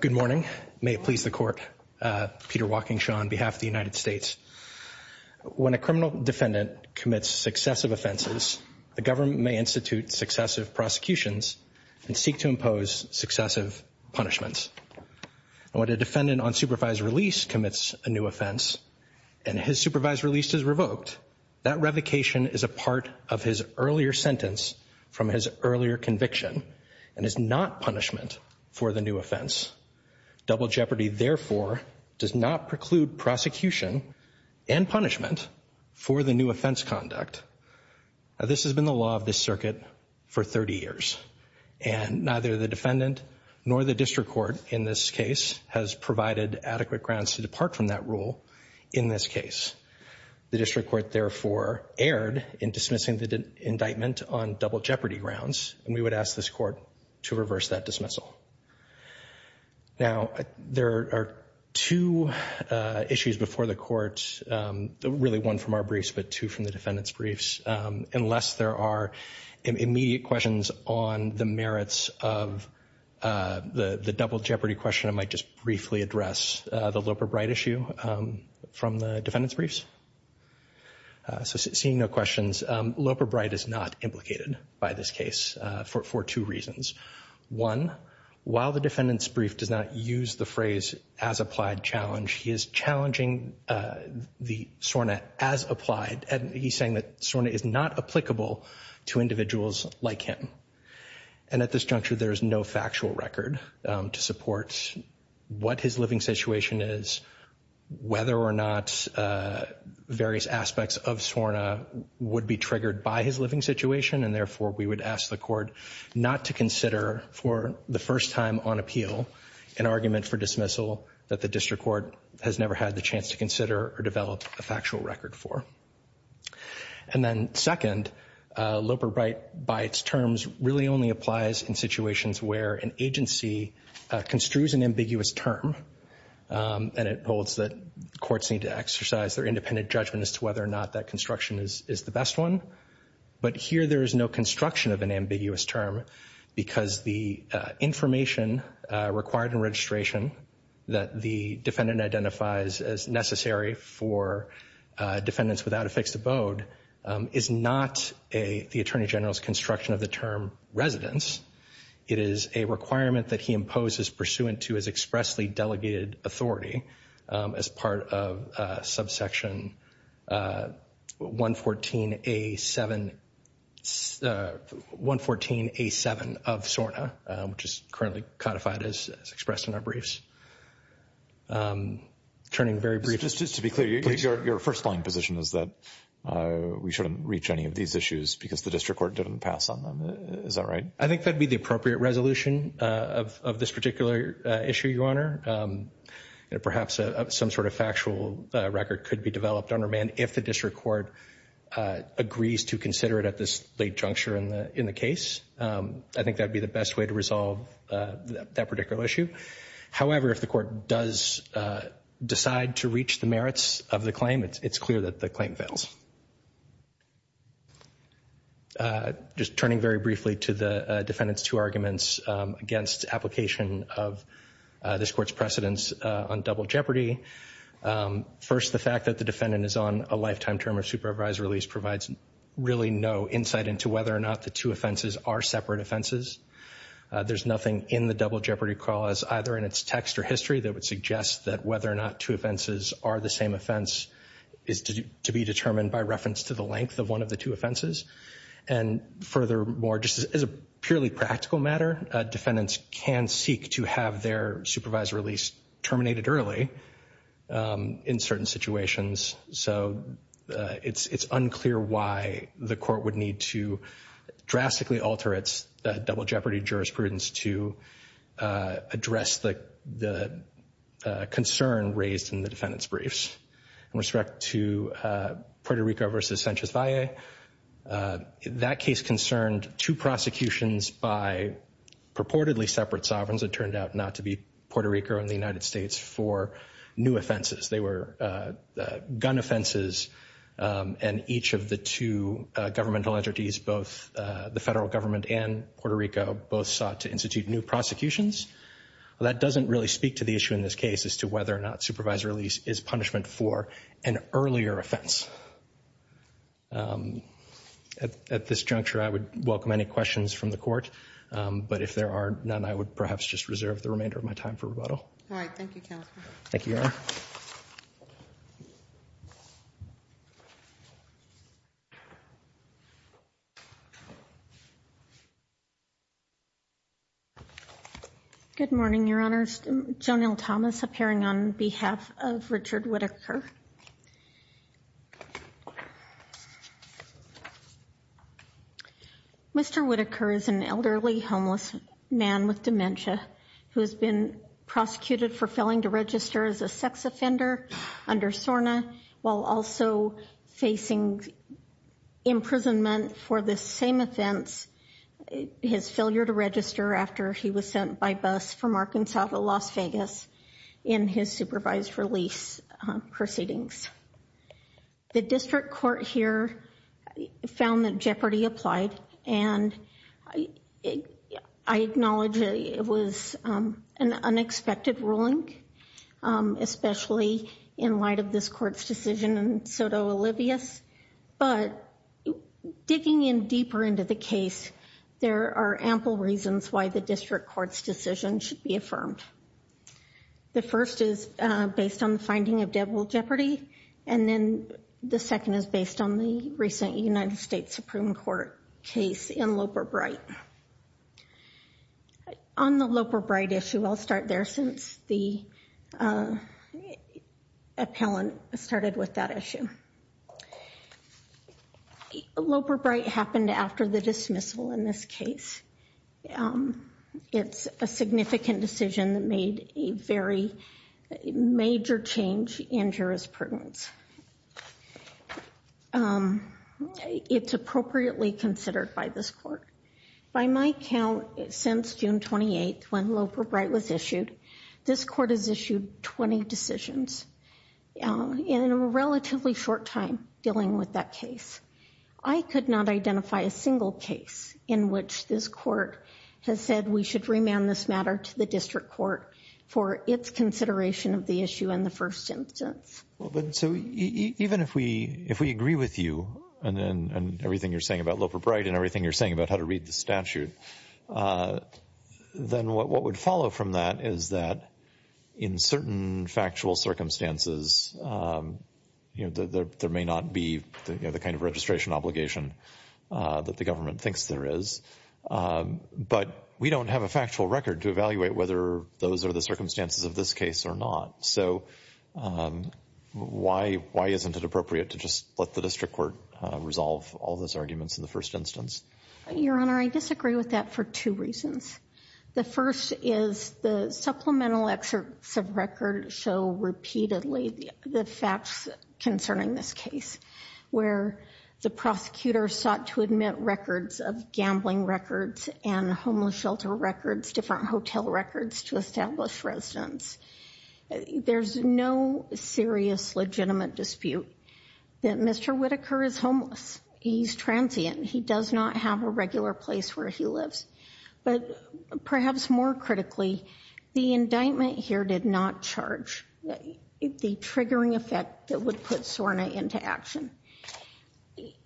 Good morning. May it please the court. Peter Walkingshaw on behalf of the United States. When a criminal defendant commits successive offenses, the government may institute successive prosecutions and seek to impose successive punishments. When a defendant on supervised release commits a new offense and his supervised release is revoked, that revocation is a part of his earlier sentence from his earlier conviction and is not punishment for the new offense. Double jeopardy therefore does not preclude prosecution and punishment for the new offense conduct. This has been the law of this circuit for 30 years, and neither the defendant nor the district court in this case has provided adequate grounds to depart from that rule in this case. The district court therefore erred in dismissing the indictment on double jeopardy grounds, and we would ask this court to reverse that dismissal. Now, there are two issues before the court, really one from our briefs, but two from the defendant's briefs. Unless there are immediate questions on the merits of the double jeopardy question, I might just briefly address the Loper-Bright issue from the defendant's briefs. So seeing no questions, Loper-Bright is not implicated by this case for two reasons. One, while the defendant's brief does not use the phrase as applied challenge, he is challenging the SORNA as applied, and he's saying that SORNA is not applicable to individuals like him. And at this juncture, there is no factual record to support what his living situation is, whether or not various aspects of SORNA would be triggered by his living situation, and therefore we would ask the court not to consider for the first time on appeal an argument for dismissal that the district court has never had the chance to consider or develop a factual record for. And then second, Loper-Bright by its terms really only applies in situations where an agency construes an ambiguous term, and it holds that courts need to exercise their independent judgment as to whether or not that construction is the best one, but here there is no construction of an ambiguous term because the information required in registration that the defendant identifies as necessary for defendants without a fixed abode is not the Attorney General's construction of the term residence. It is a requirement that he imposes pursuant to his expressly delegated authority as part of subsection 114A7 of SORNA, which is currently codified as expressed in our briefs. Turning very briefly... Just to be clear, your first line position is that we shouldn't reach any of these issues because the district court didn't pass on them. Is that right? I think that would be the appropriate resolution of this particular issue, Your Honor. Perhaps some sort of factual record could be developed under man if the district court agrees to consider it at this late juncture in the case. I think that would be the best way to resolve that particular issue. However, if the court does decide to reach the merits of the claim, it's clear that the claim fails. Just turning very briefly to the defendant's two arguments against application of this court's precedence on double jeopardy. First, the fact that the defendant is on a lifetime term of supervised release provides really no insight into whether or not the two offenses are separate offenses. There's nothing in the double jeopardy clause, either in its text or history, that would suggest that whether or not two offenses are the same offense is to be determined by reference to the length of one of the two offenses. And furthermore, just as a purely practical matter, defendants can seek to have their supervised release terminated early in certain situations. So it's unclear why the court would need to drastically alter its double jeopardy jurisprudence to address the concern raised in the defendant's two prosecutions by purportedly separate sovereigns that turned out not to be Puerto Rico and the United States for new offenses. They were gun offenses, and each of the two governmental entities, both the federal government and Puerto Rico, both sought to institute new prosecutions. That doesn't really speak to the issue in this case as to whether or not supervised release is punishment for an earlier offense. At this juncture, I would welcome any questions from the Court. But if there are none, I would perhaps just reserve the remainder of my time for rebuttal. All right. Thank you, Counselor. Thank you, Your Honor. Good morning, Your Honors. Joan L. Thomas, appearing on behalf of Richard Whitaker. Mr. Whitaker is an elderly, homeless man with dementia who has been prosecuted for failing to register as a sex offender under SORNA while also facing imprisonment for the same offense, his failure to register after he was sent by bus from Arkansas to Las Vegas in his supervised release proceedings. The District Court here found that jeopardy applied, and I acknowledge it was an unexpected ruling, especially in light of this Court's decision in Soto-Olivias. But digging in deeper into the case, there are ample reasons why the Court's decision should be affirmed. The first is based on the finding of devil jeopardy, and then the second is based on the recent United States Supreme Court case in Loper-Bright. On the Loper-Bright issue, I'll start there since the appellant started with that issue. Loper-Bright happened after the dismissal in this case. It's a significant decision that made a very major change in jurisprudence. It's appropriately considered by this Court. By my count, since June 28th, when Loper-Bright was issued, this Court has issued 20 decisions. In a relatively short time dealing with that case, I could not identify a single case in which this Court has said we should remand this matter to the District Court for its consideration of the issue in the first instance. So even if we agree with you and everything you're saying about Loper-Bright and everything you're saying about how to read the statute, then what would follow from that is that in certain factual circumstances, there may not be the kind of registration obligation that the government thinks there is, but we don't have a factual record to evaluate whether those are the circumstances of this case or not. So why isn't it appropriate to just let the District Court resolve all those arguments in the first instance? Your Honor, I disagree with that for two reasons. The first is the supplemental excerpts of record show repeatedly the facts concerning this case, where the prosecutor sought to admit records of gambling records and homeless shelter records, different hotel records to establish residence. There's no serious legitimate dispute that Mr. Whitaker is homeless. He's transient. He does not have a regular place where he lives. But perhaps more critically, the indictment here did not charge the triggering effect that would put Sorna into action.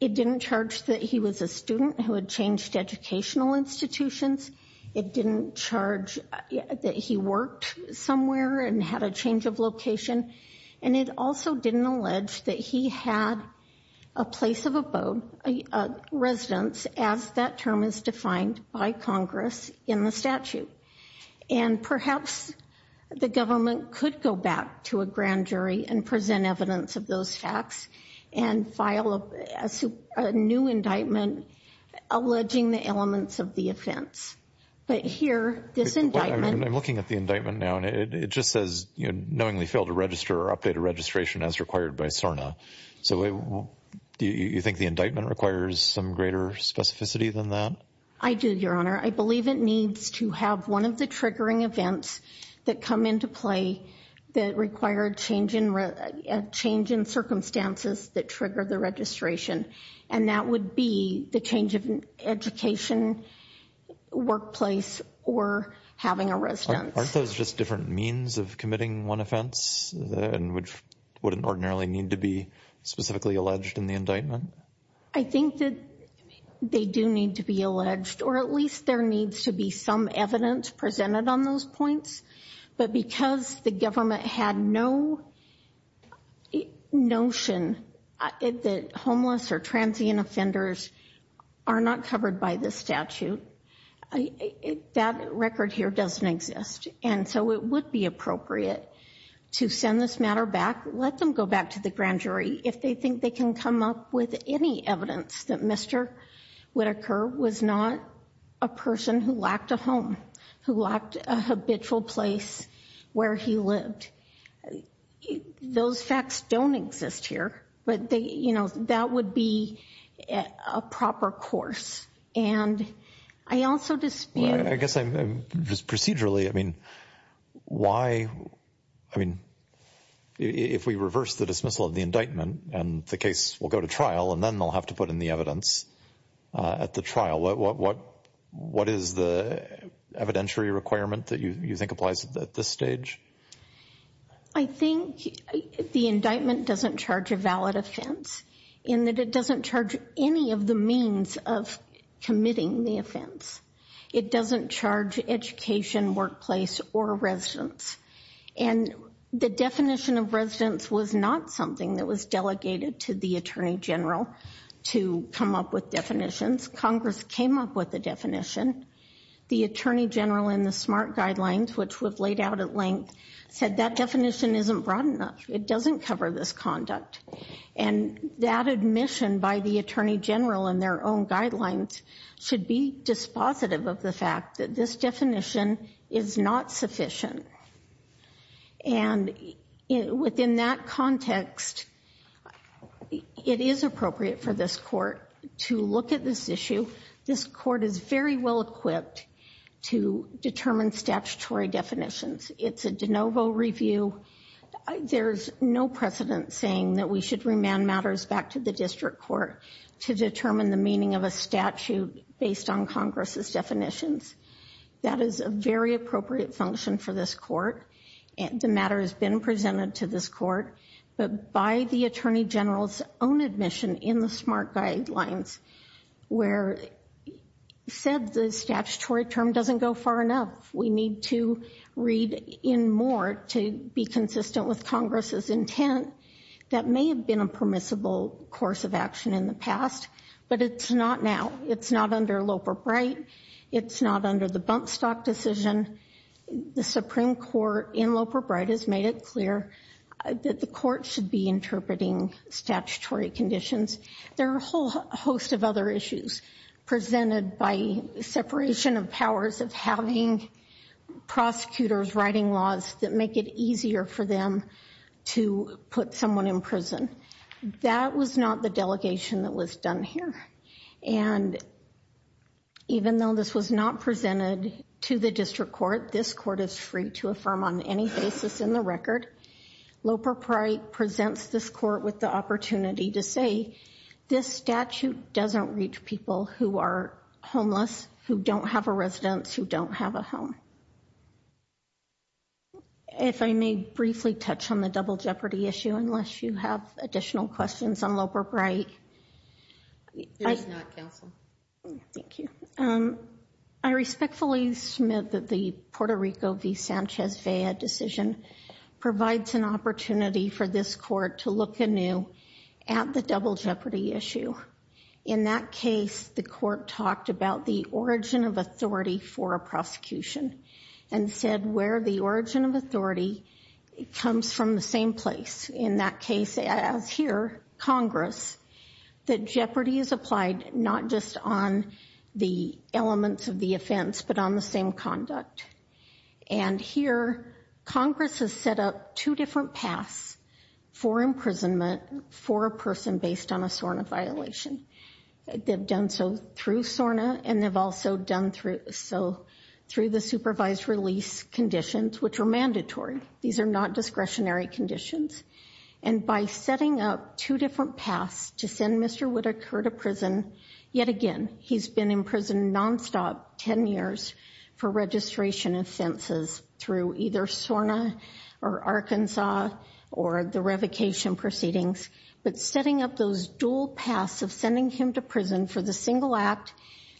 It didn't charge that he was a student who had changed educational institutions. It didn't charge that he worked somewhere and had a change of location. And it also didn't allege that he had a place of abode, a residence, as that term is defined by Congress in the statute. And perhaps the government could go back to a grand jury and present evidence of those facts and file a new indictment alleging the elements of the offense. But here, this indictment I'm looking at the indictment now, and it just says, you know, knowingly failed to register or update a registration as required by Sorna. So do you think the indictment requires some greater specificity than that? I do, Your Honor. I believe it needs to have one of the triggering events that come into play that required change in circumstances that triggered the registration. And that would be the change of education, workplace, or having a residence. Aren't those just different means of committing one offense, and wouldn't ordinarily need to be specifically alleged in the indictment? I think that they do need to be alleged, or at least there needs to be some evidence presented on those points. But because the government had no notion that homeless or transient offenders are not covered by this statute, that record here doesn't exist. And so it would be appropriate to send this matter back, let them go back to the grand jury if they think they can come up with any evidence that Mr. Whitaker was not a person who lacked a home, who lacked a habitual place where he lived. Those facts don't exist here, but that would be a proper course. And I also dispute... I guess procedurally, I mean, why... I mean, if we reverse the dismissal of the indictment and the case will go to trial, and then they'll have to put in the evidence at the trial, what is the evidentiary requirement that you think applies at this stage? I think the indictment doesn't charge a valid offense, in that it doesn't charge any of the means of committing the offense. It doesn't charge education, workplace, or residence. And the definition of residence was not something that was delegated to the Attorney General to come up with definitions. Congress came up with the definition. The Attorney General in the SMART guidelines, which we've laid out at length, said that definition isn't broad enough. It doesn't cover this conduct. And that admission by the Attorney General in their own guidelines should be dispositive of the fact that this definition is not sufficient. And within that context, it is appropriate for this Court to look at this issue. This Court is very well equipped to determine statutory definitions. It's a de novo review. There's no precedent saying that we should remand matters back to the District Court to determine the meaning of a statute based on Congress's definitions. That is a very appropriate function for this Court. The matter has been presented to this Court, but by the Attorney General's own admission in the SMART guidelines, where it said the statutory term doesn't go far enough. We need to read in more to be consistent with Congress's intent. That may have been a permissible course of action in the past, but it's not now. It's not under Loper-Bright. It's not under the Bumpstock decision. The Supreme Court in Loper-Bright has made it clear that the Court should be interpreting statutory conditions. There are a whole host of other issues presented by separation of powers of having prosecutors writing laws that make it easier for them to put someone in prison. That was not the delegation that was done here. And even though this was not presented to the District Court, this Court is free to affirm on any basis in the record. Loper-Bright presents this Court with the opportunity to say this statute doesn't reach people who are homeless, who don't have a residence, who don't have a home. If I may briefly touch on the double jeopardy issue, unless you have additional questions on Loper-Bright. There is not, Counsel. Thank you. I respectfully submit that the Puerto Rico v. Sanchez-Vea decision provides an opportunity for this Court to look anew at the double jeopardy issue. In that case, the Court talked about the origin of authority for a prosecution and said where the origin of authority comes from the same place. In that case, as here, Congress, that jeopardy is applied not just on the elements of the offense, but on the same conduct. And here, Congress has set up two different paths for imprisonment for a person based on a SORNA violation. They've done so through SORNA and they've also done so through the supervised release conditions, which are mandatory. These are not discretionary conditions. And by setting up two different paths to send Mr. Whitaker to prison, yet again, he's been in prison nonstop, 10 years, for registration offenses through either SORNA or Arkansas or the revocation proceedings. But setting up those dual paths of sending him to prison for the single act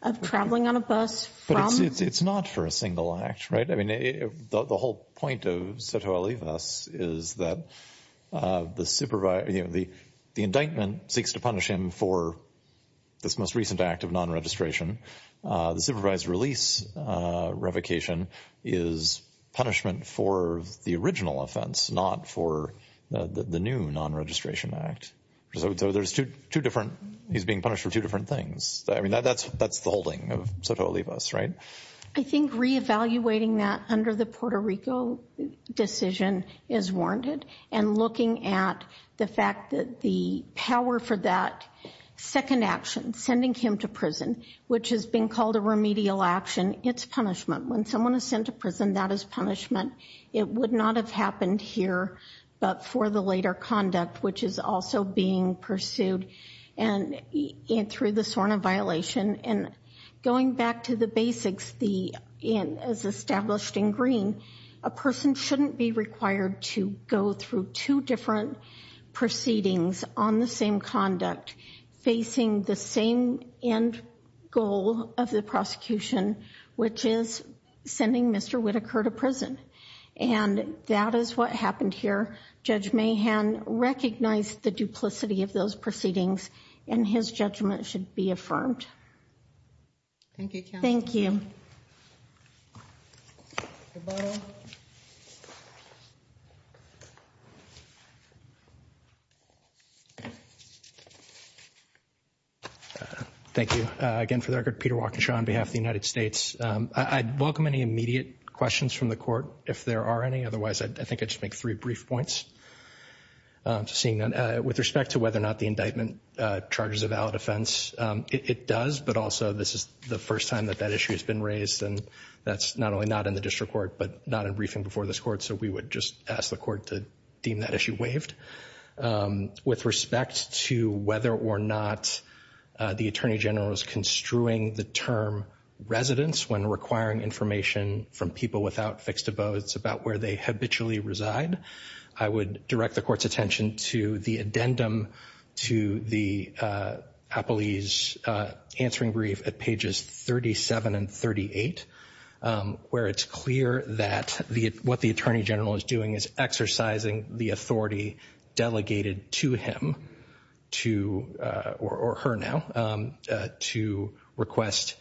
of traveling on a bus from... But it's not for a single act, right? I mean, the whole point of Soto Alivas is that the indictment seeks to punish him for this most recent act of non-registration. The supervised release revocation is punishment for the original offense, not for the new non-registration act. So there's two different... He's being punished for two different things. I mean, that's the holding of Soto Alivas, right? I think reevaluating that under the Puerto Rico decision is warranted. And looking at the fact that the power for that second action, sending him to prison, which has been called a remedial action, it's punishment. When someone is sent to prison, that is punishment. It would not have happened here, but for the later conduct, which is also being pursued through the SORNA violation. And going back to the basics, as established in Green, a person shouldn't be required to go through two different proceedings on the same conduct, facing the same end goal of the prosecution, which is sending Mr. Whitaker to prison. And that is what happened here. Judge Mahan recognized the duplicity of those proceedings, and his judgment should be affirmed. Thank you, counsel. Thank you. Again, for the record, Peter Walkinshaw on behalf of the United States. I'd welcome any immediate questions from the court, if there are any. Otherwise, I think I'd just make three brief points. With respect to whether or not the indictment charges a valid offense, it does. But also, this is the first time that that issue has been raised. And that's not only not in the district court, but not in briefing before this court. So we would just ask the court to deem that issue waived. With respect to whether or not the attorney general is construing the term residence when requiring information from people without fixed abodes about where they habitually reside, I would direct the court's attention to the addendum to the appellee's answering brief at pages 37 and 38, where it's clear that what the attorney general is doing is exercising the authority delegated to him or her now to request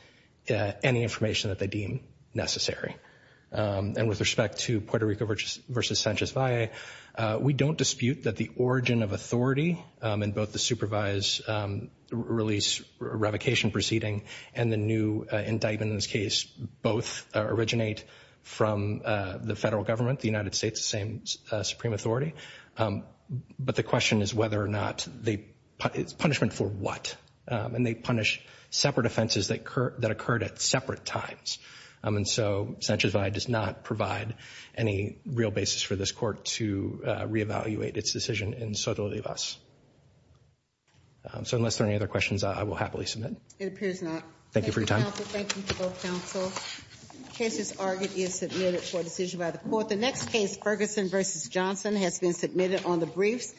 any information that they deem necessary. And with respect to Puerto Rico versus Sanchez Valle, we don't dispute that the origin of authority in both the supervised release revocation proceeding and the new indictment in this case both originate from the federal government, the United States, the same supreme authority. But the question is whether or not the punishment for what. And they punish separate offenses that occurred at separate times. And so Sanchez Valle does not provide any real basis for this court to reevaluate its decision in Soto de Vaz. So unless there are any other questions, I will happily submit. It appears not. Thank you for your time. Thank you, counsel. Thank you to both counsel. The case as argued is submitted for decision by the court. The next case, Ferguson versus Johnson, has been submitted on the briefs.